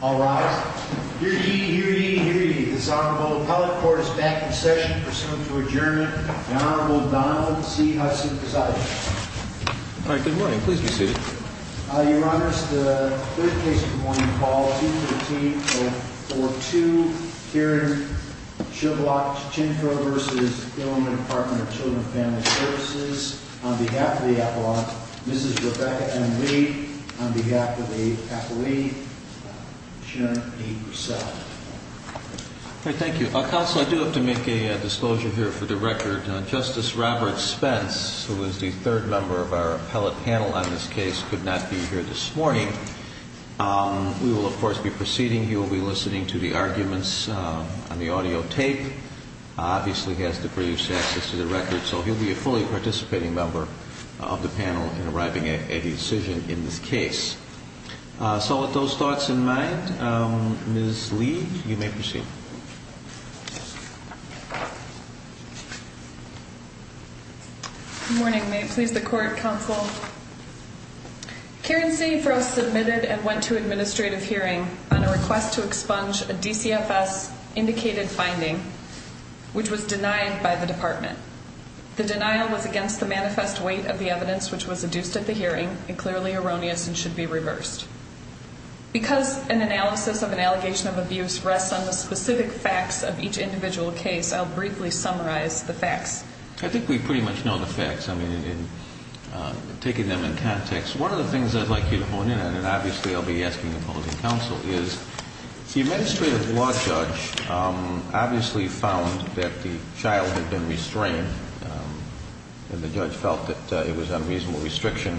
All rise. Hear ye, hear ye, hear ye. This Honorable Appellate Court is back in session, pursuant to adjournment. The Honorable Donald C. Hudson, presiding. All right, good morning. Please be seated. Your Honor, this is the third case of the morning, called 213-042, here in Shilvock-Cinefro v. Illinois Department of Children and Family Services. On behalf of the appellant, Mrs. Rebecca M. Lee. On behalf of the appellee, Sharon P. Broussard. All right, thank you. Counsel, I do have to make a disclosure here for the record. Justice Robert Spence, who is the third member of our appellate panel on this case, could not be here this morning. We will, of course, be proceeding. He will be listening to the arguments on the audio tape. Obviously, he has to produce access to the record. So he'll be a fully participating member of the panel in arriving at a decision in this case. So with those thoughts in mind, Ms. Lee, you may proceed. Good morning. May it please the Court, Counsel. Karen C. Frost submitted and went to administrative hearing on a request to expunge a DCFS-indicated finding, which was denied by the Department. The denial was against the manifest weight of the evidence which was adduced at the hearing, and clearly erroneous and should be reversed. Because an analysis of an allegation of abuse rests on the specific facts of each individual case, I'll briefly summarize the facts. I think we pretty much know the facts. I mean, in taking them in context, one of the things I'd like you to hone in on, and obviously I'll be asking opposing counsel, is the administrative law judge obviously found that the child had been restrained, and the judge felt that it was unreasonable restriction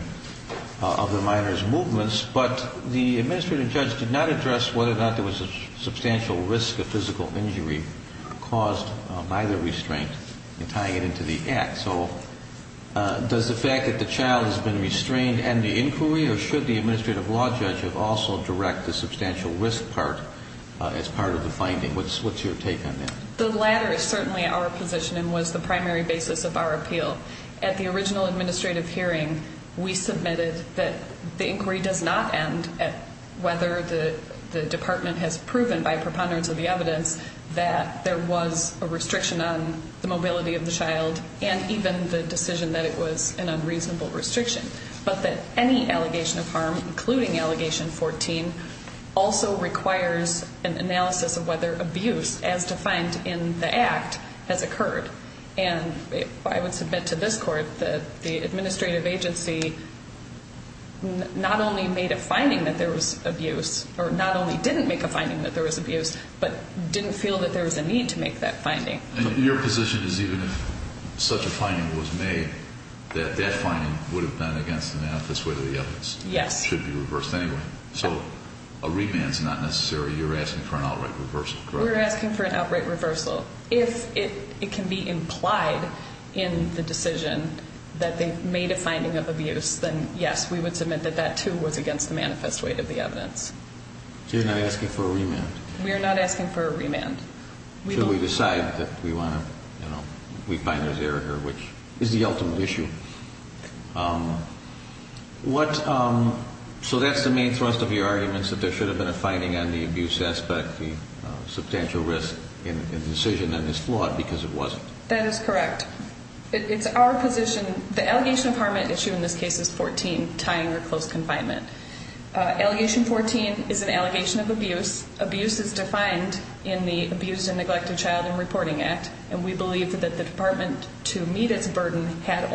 of the minor's movements, but the administrative judge did not address whether or not there was a substantial risk of physical injury caused by the restraint in tying it into the act. So does the fact that the child has been restrained end the inquiry, or should the administrative law judge also direct the substantial risk part as part of the finding? What's your take on that? The latter is certainly our position and was the primary basis of our appeal. At the original administrative hearing, we submitted that the inquiry does not end at whether the department has proven by preponderance of the evidence that there was a restriction on the mobility of the child and even the decision that it was an unreasonable restriction, but that any allegation of harm, including Allegation 14, also requires an analysis of whether abuse as defined in the act has occurred. And I would submit to this court that the administrative agency not only made a finding that there was abuse, or not only didn't make a finding that there was abuse, but didn't feel that there was a need to make that finding. And your position is even if such a finding was made, that that finding would have been against the manifesto of the evidence? Yes. It should be reversed anyway. So a remand is not necessary. You're asking for an outright reversal, correct? We're asking for an outright reversal. If it can be implied in the decision that they've made a finding of abuse, then yes, we would submit that that, too, was against the manifesto of the evidence. So you're not asking for a remand? We're not asking for a remand. So we decide that we find there's error here, which is the ultimate issue. So that's the main thrust of your arguments, that there should have been a finding on the abuse aspect, the substantial risk in the decision, and it's flawed because it wasn't. That is correct. It's our position. The allegation of harm at issue in this case is 14, tying or close confinement. Allegation 14 is an allegation of abuse. Abuse is defined in the Abused and Neglected Child and Reporting Act, and we believe that the department, to meet its burden, had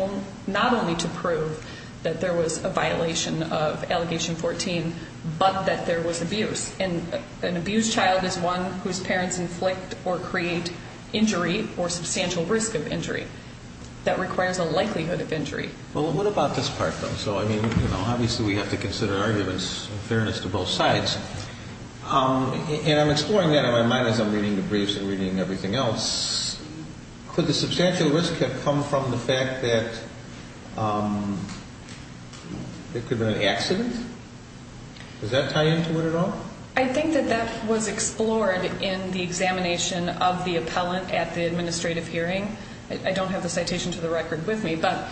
not only to prove that there was a violation of Allegation 14, but that there was abuse. And an abused child is one whose parents inflict or create injury or substantial risk of injury. That requires a likelihood of injury. Well, what about this part, though? So, I mean, obviously we have to consider arguments in fairness to both sides. And I'm exploring that in my mind as I'm reading the briefs and reading everything else. Could the substantial risk have come from the fact that there could have been an accident? Does that tie into it at all? I think that that was explored in the examination of the appellant at the administrative hearing. I don't have the citation to the record with me, but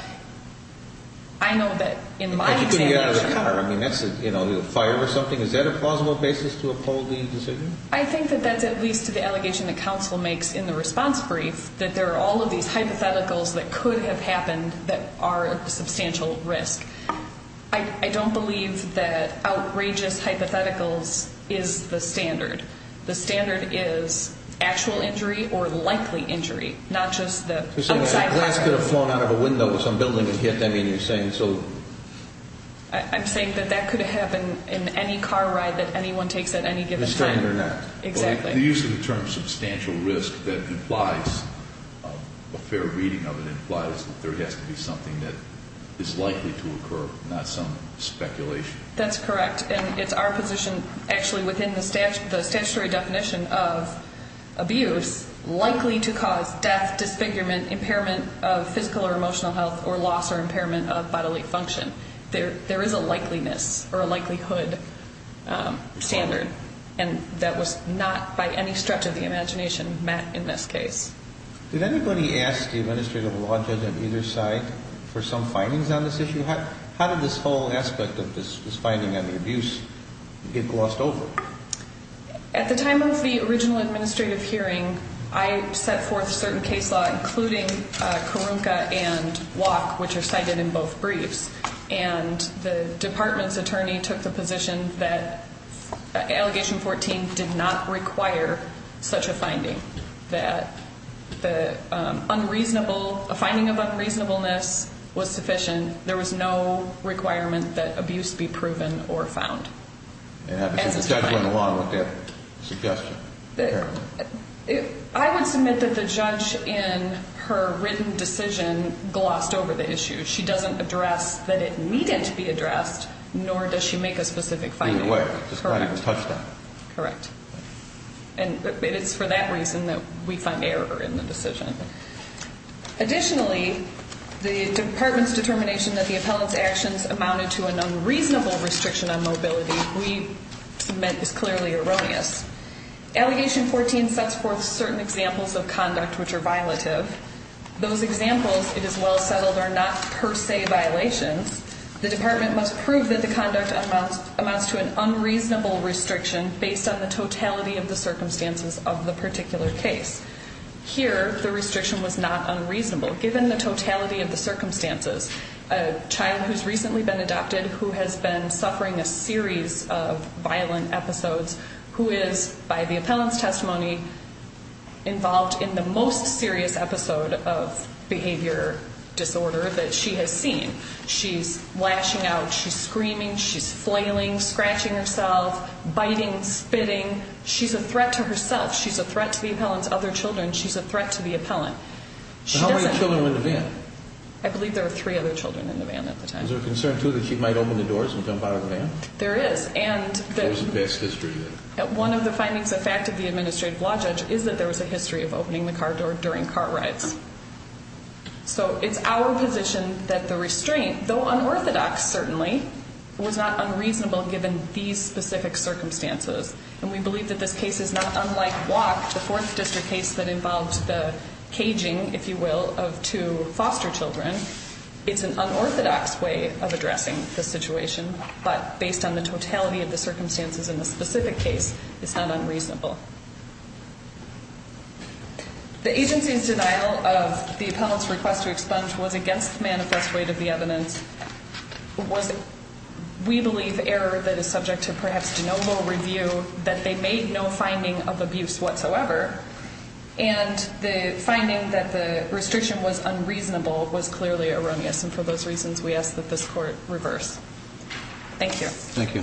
I know that in my examination. I mean, that's a fire or something. Is that a plausible basis to uphold the decision? I think that that's at least to the allegation that counsel makes in the response brief, that there are all of these hypotheticals that could have happened that are a substantial risk. I don't believe that outrageous hypotheticals is the standard. The standard is actual injury or likely injury, not just the outside. The glass could have flown out of a window of some building and hit them, and you're saying so. I'm saying that that could happen in any car ride that anyone takes at any given time. The standard or not. Exactly. The use of the term substantial risk, that implies a fair reading of it, implies that there has to be something that is likely to occur, not some speculation. That's correct. And it's our position, actually, within the statutory definition of abuse, likely to cause death, disfigurement, impairment of physical or emotional health, or loss or impairment of bodily function. There is a likeliness or a likelihood standard, and that was not by any stretch of the imagination met in this case. Did anybody ask the administrative law judge on either side for some findings on this issue? How did this whole aspect of this finding on the abuse get glossed over? At the time of the original administrative hearing, I set forth certain case law, including Karunka and Walk, which are cited in both briefs, and the department's attorney took the position that Allegation 14 did not require such a finding, that a finding of unreasonableness was sufficient. There was no requirement that abuse be proven or found. And the judge went along with that suggestion. I would submit that the judge, in her written decision, glossed over the issue. She doesn't address that it needed to be addressed, nor does she make a specific finding. In a way. Correct. Correct. And it is for that reason that we find error in the decision. Additionally, the department's determination that the appellant's actions amounted to an unreasonable restriction on mobility, we submit is clearly erroneous. Allegation 14 sets forth certain examples of conduct which are violative. Those examples, it is well settled, are not per se violations. The department must prove that the conduct amounts to an unreasonable restriction based on the totality of the circumstances of the particular case. Here, the restriction was not unreasonable. Given the totality of the circumstances, a child who has recently been adopted, who has been suffering a series of violent episodes, who is, by the appellant's testimony, involved in the most serious episode of behavior disorder that she has seen. She's lashing out. She's screaming. She's flailing, scratching herself, biting, spitting. She's a threat to herself. She's a threat to the appellant's other children. She's a threat to the appellant. How many children were in the van? I believe there were three other children in the van at the time. Is there a concern, too, that she might open the doors and jump out of the van? There is. There is a past history of that. One of the findings, a fact of the administrative law judge, is that there was a history of opening the car door during car rides. So it's our position that the restraint, though unorthodox certainly, was not unreasonable given these specific circumstances. And we believe that this case is not unlike WAC, the Fourth District case that involved the caging, if you will, of two foster children. It's an unorthodox way of addressing the situation, but based on the totality of the circumstances in the specific case, it's not unreasonable. The agency's denial of the appellant's request to expunge was against the manifest weight of the evidence, was, we believe, error that is subject to perhaps de novo review, that they made no finding of abuse whatsoever, and the finding that the restriction was unreasonable was clearly erroneous, and for those reasons we ask that this court reverse. Thank you. Thank you. Thank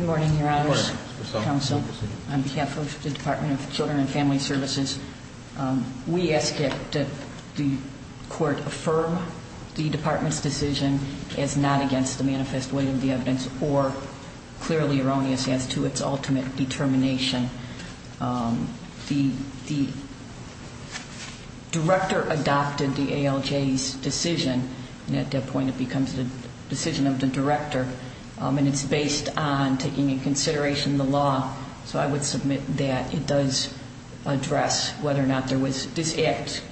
you. Good morning, Your Honors. Good morning, Ms. Persaud. Counsel, on behalf of the Department of Children and Family Services, we ask that the court affirm the department's decision as not against the manifest weight of the evidence or clearly erroneous as to its ultimate determination. The director adopted the ALJ's decision, and at that point it becomes the decision of the director, and it's based on taking into consideration the law, so I would submit that it does address whether or not there was, this act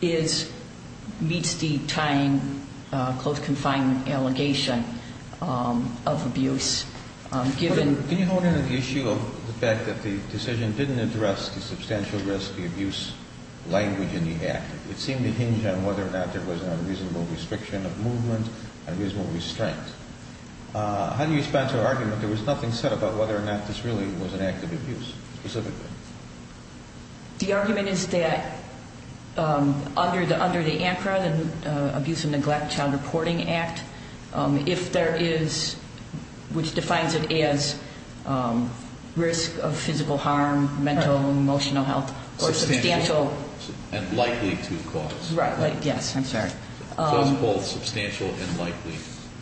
is, meets the time, close confinement allegation of abuse given. Can you hold on to the issue of the fact that the decision didn't address the substantial risk, the abuse language in the act? It seemed to hinge on whether or not there was an unreasonable restriction of movement, unreasonable restraint. How do you respond to our argument? There was nothing said about whether or not this really was an act of abuse specifically. The argument is that under the ANCRA, the Abuse and Neglect Child Reporting Act, if there is, which defines it as risk of physical harm, mental, emotional health, or substantial. And likely to cause. Right. Yes. I'm sorry. Both substantial and likely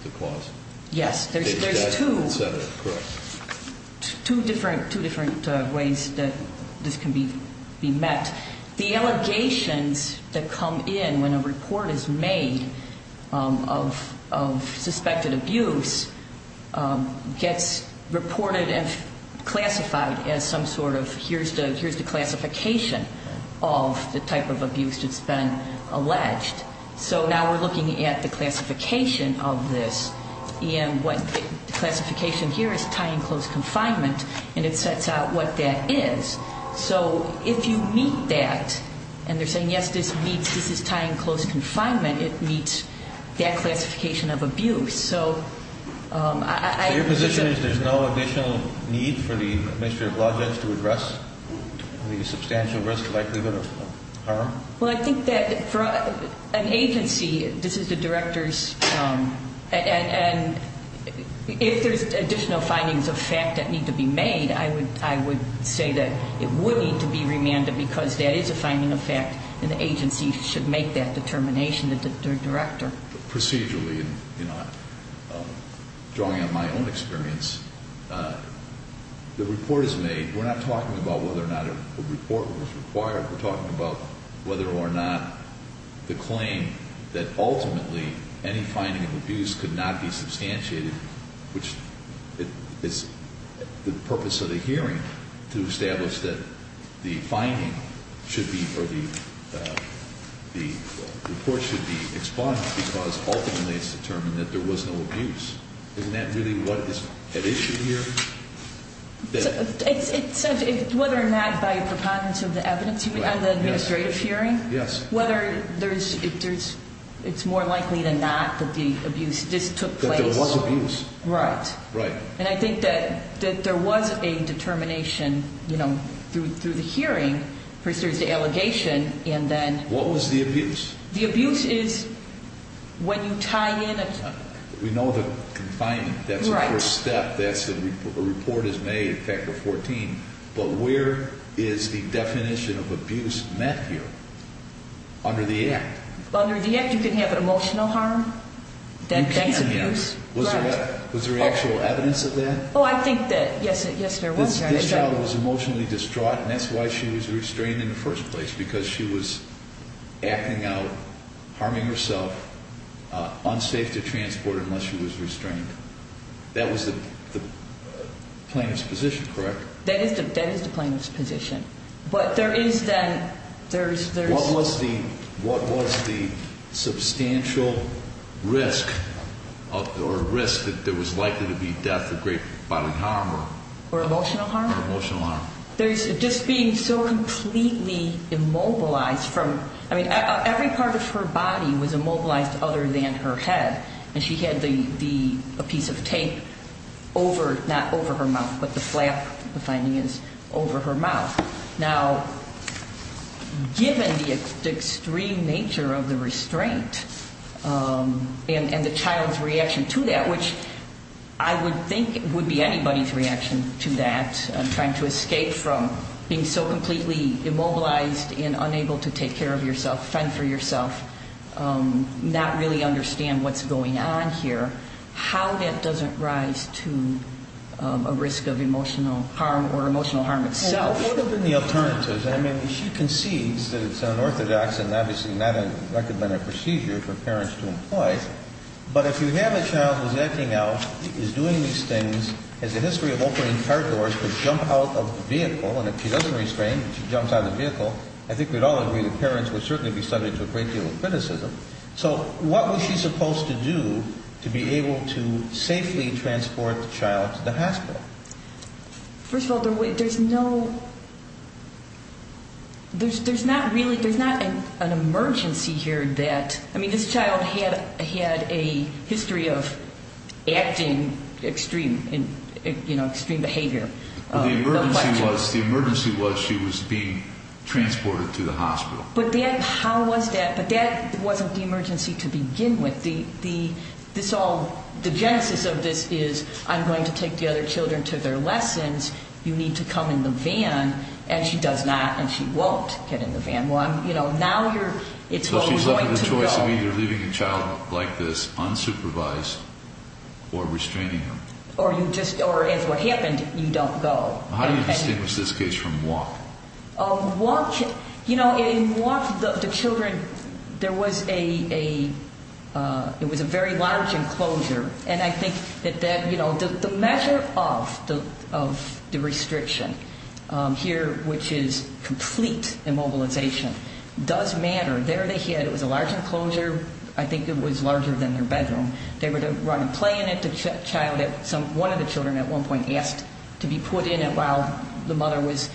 to cause. Yes. There's two different ways that this can be met. The allegations that come in when a report is made of suspected abuse gets reported and classified as some sort of, here's the classification of the type of abuse that's been alleged. So now we're looking at the classification of this. And what the classification here is tie and close confinement. And it sets out what that is. So if you meet that, and they're saying, yes, this meets, this is tie and close confinement, it meets that classification of abuse. So I. So your position is there's no additional need for the Administrative Projects to address the substantial risk, likelihood of harm? Well, I think that for an agency, this is the Director's. And if there's additional findings of fact that need to be made, I would say that it would need to be remanded because that is a finding of fact, and the agency should make that determination, the Director. Procedurally, drawing on my own experience, the report is made. We're not talking about whether or not a report was required. We're talking about whether or not the claim that ultimately any finding of abuse could not be substantiated, which is the purpose of the hearing, to establish that the finding should be, or the report should be expunged because ultimately it's determined that there was no abuse. Isn't that really what is at issue here? It's whether or not by a preponderance of the evidence on the administrative hearing, whether it's more likely than not that the abuse just took place. That there was abuse. Right. Right. And I think that there was a determination, you know, through the hearing, first there's the allegation, and then. What was the abuse? The abuse is when you tie in a. We know the confinement. Right. That's the first step. That's the report is made, Factor 14. But where is the definition of abuse met here? Under the act. Under the act, you can have an emotional harm. That's abuse. You can, yes. Was there actual evidence of that? Oh, I think that, yes, there was. This child was emotionally distraught, and that's why she was restrained in the first place, because she was acting out, harming herself, unsafe to transport unless she was restrained. That was the plaintiff's position, correct? That is the plaintiff's position. But there is then. What was the substantial risk or risk that there was likely to be death of great bodily harm? Or emotional harm? Or emotional harm. There's just being so completely immobilized from, I mean, every part of her body was immobilized other than her head, and she had a piece of tape over, not over her mouth, but the flap, the finding is, over her mouth. Now, given the extreme nature of the restraint and the child's reaction to that, which I would think would be anybody's reaction to that, trying to escape from being so completely immobilized and unable to take care of yourself, fend for yourself, not really understand what's going on here, how that doesn't rise to a risk of emotional harm or emotional harm itself. What have been the alternatives? I mean, she concedes that it's unorthodox and obviously not a recommended procedure for parents to employ, but if you have a child who's acting out, is doing these things, has a history of opening car doors, would jump out of the vehicle, and if she doesn't restrain, she jumps out of the vehicle, I think we'd all agree that parents would certainly be subject to a great deal of criticism. So what was she supposed to do to be able to safely transport the child to the hospital? First of all, there's no, there's not really, there's not an emergency here that, I mean, this child had a history of acting extreme, you know, extreme behavior. Well, the emergency was she was being transported to the hospital. But how was that? But that wasn't the emergency to begin with. The genesis of this is I'm going to take the other children to their lessons, you need to come in the van, and she does not, and she won't get in the van. You know, now you're, it's all going to go. So she's left with a choice of either leaving the child like this, unsupervised, or restraining him. Or you just, or as what happened, you don't go. How do you distinguish this case from MWOP? MWOP, you know, in MWOP, the children, there was a, it was a very large enclosure, and I think that that, you know, the measure of the restriction here, which is complete immobilization, does matter. There they had, it was a large enclosure. I think it was larger than their bedroom. They were to run and play in it. The child, one of the children at one point asked to be put in it while the mother was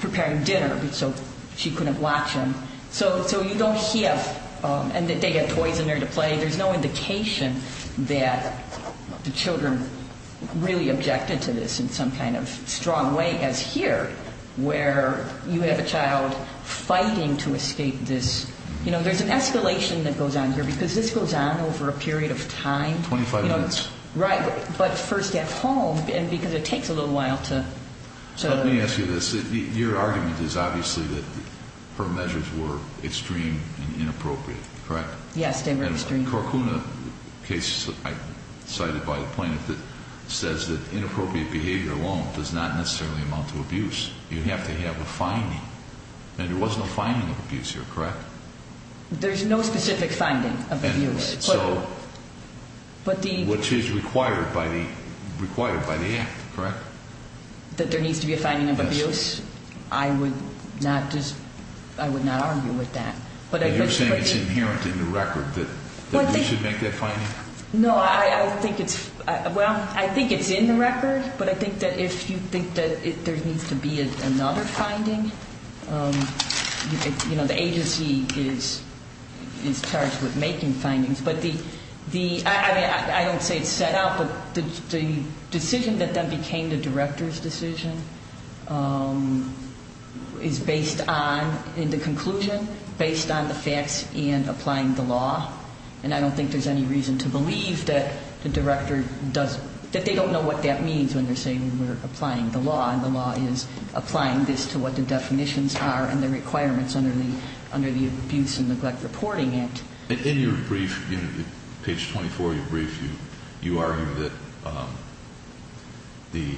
preparing dinner so she couldn't watch him. So you don't have, and they have toys in there to play. There's no indication that the children really objected to this in some kind of strong way as here where you have a child fighting to escape this. You know, there's an escalation that goes on here because this goes on over a period of time. Twenty-five minutes. Right, but first at home, and because it takes a little while to... So let me ask you this. Your argument is obviously that her measures were extreme and inappropriate, correct? Yes, they were extreme. And the Korkuna case, cited by the plaintiff, says that inappropriate behavior alone does not necessarily amount to abuse. You have to have a finding, and there was no finding of abuse here, correct? There's no specific finding of abuse. Which is required by the act, correct? That there needs to be a finding of abuse? Yes. I would not just, I would not argue with that. You're saying it's inherent in the record that we should make that finding? No, I don't think it's... Well, I think it's in the record, but I think that if you think that there needs to be another finding, you know, the agency is charged with making findings. But the, I mean, I don't say it's set out, but the decision that then became the director's decision is based on, in the conclusion, based on the facts and applying the law. And I don't think there's any reason to believe that the director does, that they don't know what that means when they're saying we're applying the law, and the law is applying this to what the definitions are and the requirements under the Abuse and Neglect Reporting Act. In your brief, page 24 of your brief, you argue that the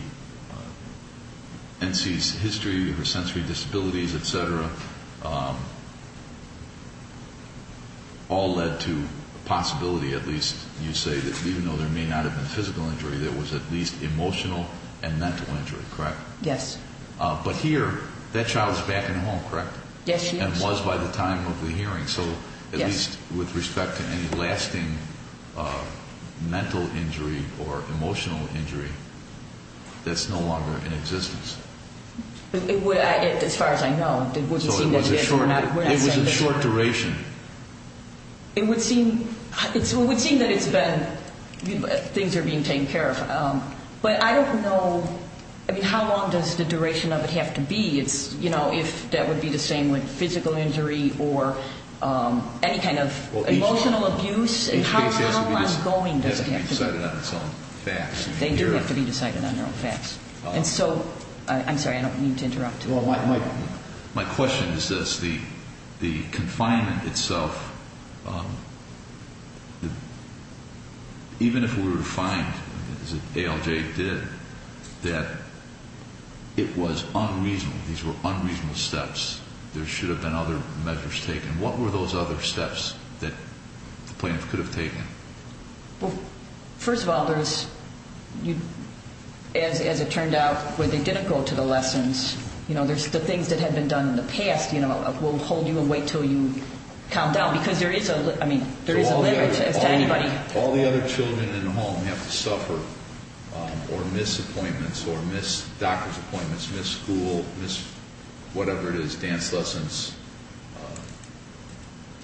N.C.'s history of her sensory disabilities, et cetera, all led to the possibility, at least you say, that even though there may not have been physical injury, there was at least emotional and mental injury, correct? Yes. But here, that child is back in the home, correct? Yes, she is. And was by the time of the hearing, so at least with respect to any lasting mental injury or emotional injury, that's no longer in existence. As far as I know. So it was a short duration. It would seem that it's been, things are being taken care of. But I don't know, I mean, how long does the duration of it have to be? It's, you know, if that would be the same with physical injury or any kind of emotional abuse, how long does it have to be? It has to be decided on its own facts. They do have to be decided on their own facts. And so, I'm sorry, I don't mean to interrupt. Well, my question is this. The confinement itself, even if we were to find, as ALJ did, that it was unreasonable, these were unreasonable steps, there should have been other measures taken. What were those other steps that the plaintiff could have taken? Well, first of all, there's, as it turned out, where they didn't go to the lessons, you know, there's the things that had been done in the past, you know, will hold you and wait until you calm down because there is a, I mean, there is a limit as to anybody. All the other children in the home have to suffer or miss appointments or miss doctor's appointments, miss school, miss whatever it is, dance lessons,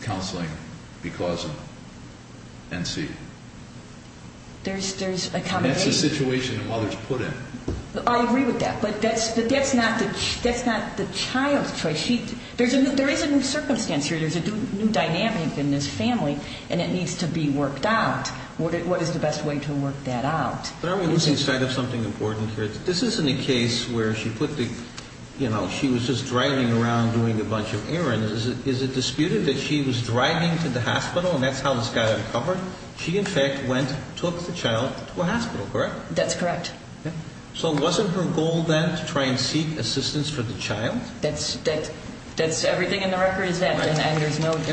counseling because of NC. There's accommodation. And that's the situation the mother's put in. I agree with that, but that's not the child's choice. There is a new circumstance here. There's a new dynamic in this family, and it needs to be worked out. What is the best way to work that out? But aren't we losing sight of something important here? This isn't a case where she put the, you know, she was just driving around doing a bunch of errands. Is it disputed that she was driving to the hospital and that's how this got uncovered? She, in fact, went, took the child to a hospital, correct? That's correct. So wasn't her goal then to try and seek assistance for the child? That's everything in the record is that. And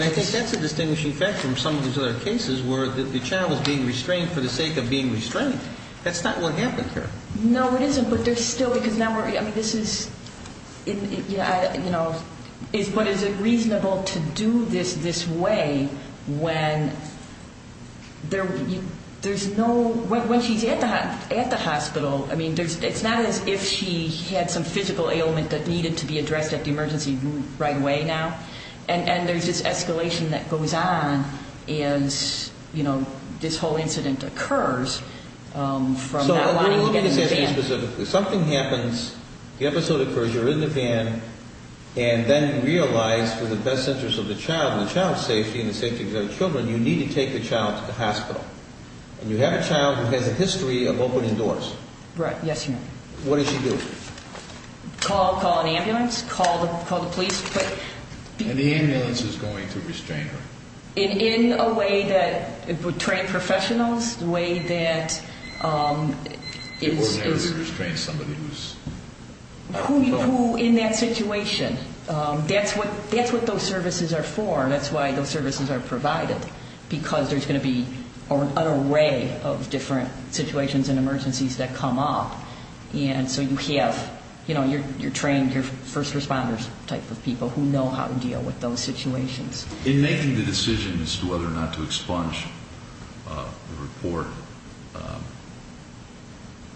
I think that's a distinguishing fact from some of these other cases where the child was being restrained for the sake of being restrained. That's not what happened here. No, it isn't. But there's still, because now we're, I mean, this is, you know, but is it reasonable to do this this way when there's no, when she's at the hospital? I mean, it's not as if she had some physical ailment that needed to be addressed at the emergency right away now. And there's this escalation that goes on as, you know, this whole incident occurs from not wanting to get in the van. So let me ask you specifically. Something happens, the episode occurs, you're in the van, and then realize for the best interest of the child and the child's safety and the safety of the other children, you need to take the child to the hospital. And you have a child who has a history of opening doors. Right. Yes, Your Honor. What does she do? Call, call an ambulance, call the police. And the ambulance is going to restrain her? In a way that it would train professionals, the way that it is. It wouldn't have to restrain somebody who's on the phone. Who in that situation. That's what those services are for. That's why those services are provided, because there's going to be an array of different situations and emergencies that come up. And so you have, you know, you're trained, you're first responders type of people who know how to deal with those situations. In making the decision as to whether or not to expunge the report,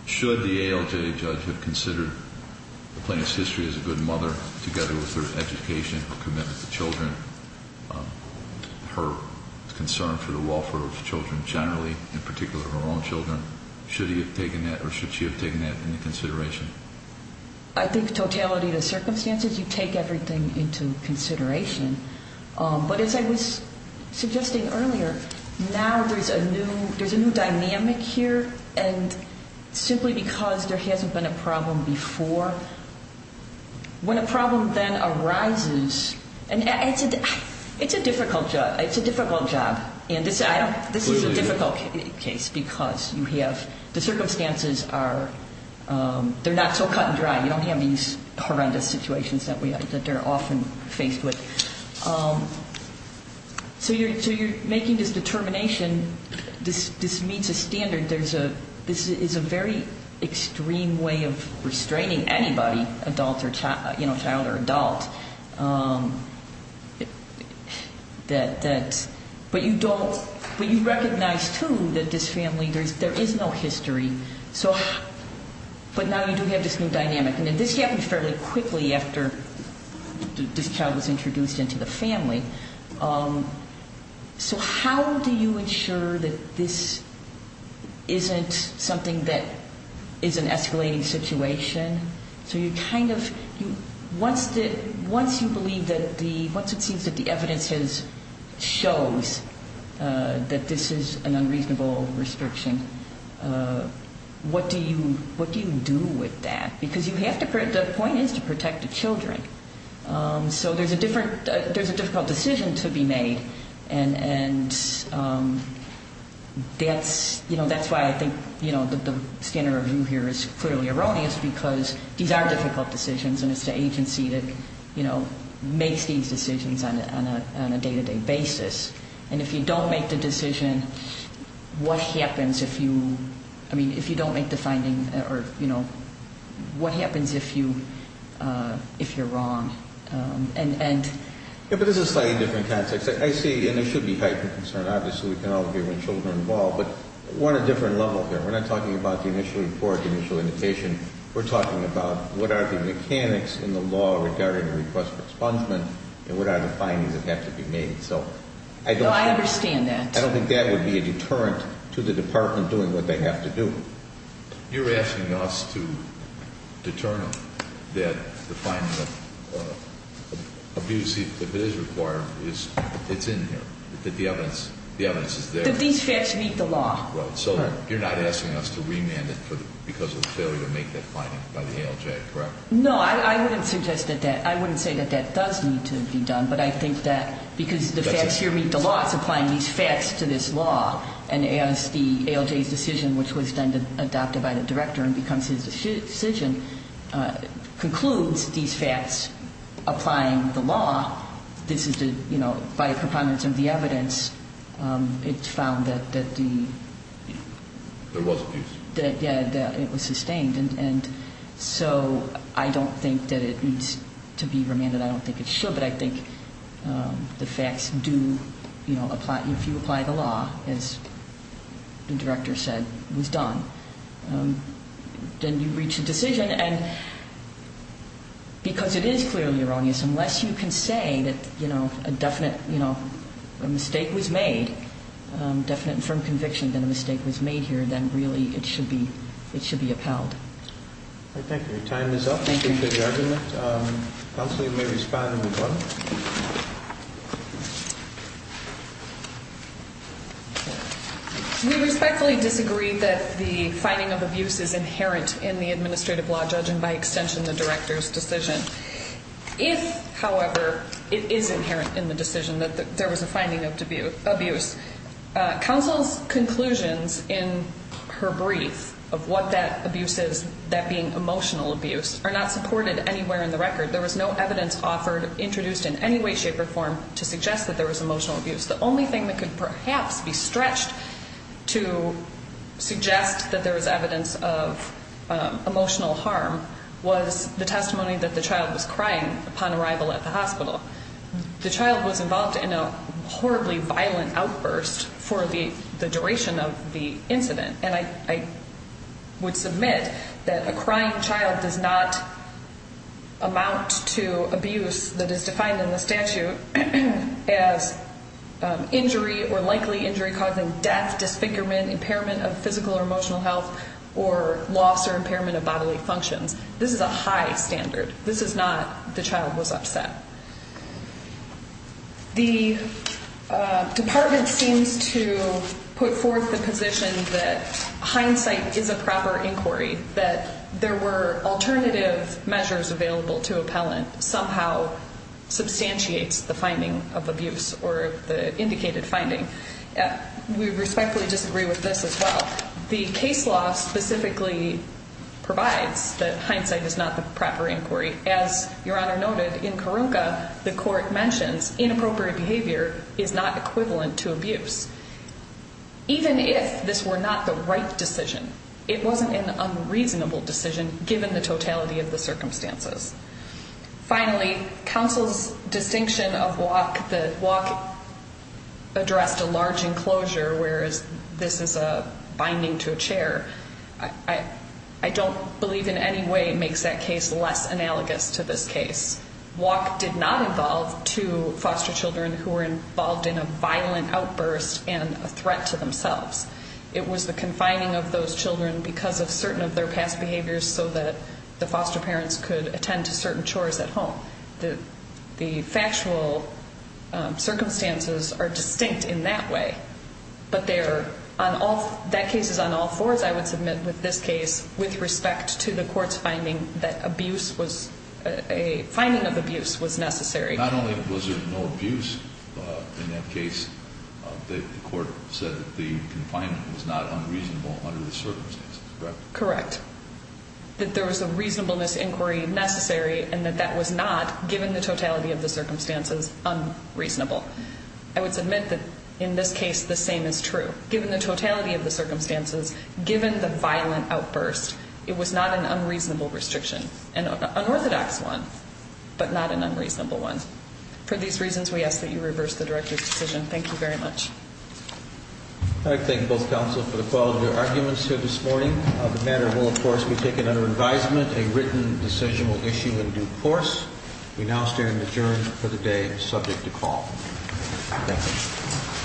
should the ALJ judge have considered the plaintiff's history as a good mother, together with her education, her commitment to children, her concern for the welfare of children generally, in particular her own children, should he have taken that or should she have taken that into consideration? I think totality of the circumstances, you take everything into consideration. But as I was suggesting earlier, now there's a new dynamic here, and simply because there hasn't been a problem before. When a problem then arises, and it's a difficult job. It's a difficult job. And this is a difficult case because you have the circumstances are not so cut and dry. You don't have these horrendous situations that they're often faced with. So you're making this determination, this meets a standard. This is a very extreme way of restraining anybody, adult or child, you know, child or adult. But you don't, but you recognize, too, that this family, there is no history. So, but now you do have this new dynamic. And this happened fairly quickly after this child was introduced into the family. So how do you ensure that this isn't something that is an escalating situation? So you kind of, once you believe that the, once it seems that the evidence shows that this is an unreasonable restriction, what do you do with that? Because you have to, the point is to protect the children. So there's a different, there's a difficult decision to be made. And that's, you know, that's why I think, you know, the standard review here is clearly erroneous because these are difficult decisions and it's the agency that, you know, makes these decisions on a day-to-day basis. And if you don't make the decision, what happens if you, I mean, if you don't make the finding or, you know, what happens if you're wrong? Yeah, but this is a slightly different context. I see, and there should be heightened concern. Obviously, we can all agree when children are involved. But on a different level here, we're not talking about the initial report, the initial indication. We're talking about what are the mechanics in the law regarding the request for expungement and what are the findings that have to be made. So I don't think that would be a deterrent to the department doing what they have to do. You're asking us to determine that the finding of abuse, if it is required, it's in here, that the evidence is there. That these facts meet the law. Right, so you're not asking us to remand it because of the failure to make that finding by the ALJ, correct? No, I wouldn't suggest that that, I wouldn't say that that does need to be done, but I think that because the facts here meet the law, it's applying these facts to this law. And as the ALJ's decision, which was then adopted by the director and becomes his decision, concludes these facts applying the law, this is the, you know, by components of the evidence, it's found that the, that it was sustained. And so I don't think that it needs to be remanded. I don't think it should. But I think the facts do, you know, if you apply the law, as the director said, it was done. Then you reach a decision, and because it is clearly erroneous, unless you can say that, you know, a definite, you know, a mistake was made, a definite and firm conviction that a mistake was made here, then really it should be upheld. All right, thank you. Your time is up. Thank you. Thank you for the argument. Counsel may respond if you'd like. We respectfully disagree that the finding of abuse is inherent in the administrative law judge and by extension the director's decision. If, however, it is inherent in the decision that there was a finding of abuse, counsel's conclusions in her brief of what that abuse is, that being emotional abuse, are not supported anywhere in the record. There was no evidence offered, introduced in any way, shape, or form to suggest that there was emotional abuse. The only thing that could perhaps be stretched to suggest that there was evidence of emotional harm was the testimony that the child was crying upon arrival at the hospital. The child was involved in a horribly violent outburst for the duration of the incident, and I would submit that a crying child does not amount to abuse that is defined in the statute as injury or likely injury causing death, disfigurement, impairment of physical or emotional health, or loss or impairment of bodily functions. This is a high standard. This is not the child was upset. The department seems to put forth the position that hindsight is a proper inquiry, that there were alternative measures available to appellant, somehow substantiates the finding of abuse or the indicated finding. We respectfully disagree with this as well. The case law specifically provides that hindsight is not the proper inquiry. As Your Honor noted, in Karunka, the court mentions inappropriate behavior is not equivalent to abuse. Even if this were not the right decision, it wasn't an unreasonable decision, given the totality of the circumstances. Finally, counsel's distinction of walk, the walk addressed a large enclosure, whereas this is a binding to a chair, I don't believe in any way makes that case less analogous to this case. Walk did not involve two foster children who were involved in a violent outburst and a threat to themselves. It was the confining of those children because of certain of their past behaviors so that the foster parents could attend to certain chores at home. The factual circumstances are distinct in that way, but that case is on all fours, I would submit, with this case, with respect to the court's finding that a finding of abuse was necessary. Not only was there no abuse in that case, the court said the confinement was not unreasonable under the circumstances, correct? Correct. That there was a reasonableness inquiry necessary and that that was not, given the totality of the circumstances, unreasonable. I would submit that, in this case, the same is true. Given the totality of the circumstances, given the violent outburst, it was not an unreasonable restriction, an unorthodox one, but not an unreasonable one. For these reasons, we ask that you reverse the director's decision. Thank you very much. I thank both counsel for the quality of your arguments here this morning. The matter will, of course, be taken under advisement, a written decisional issue in due course. We now stand adjourned for the day subject to call. Thank you.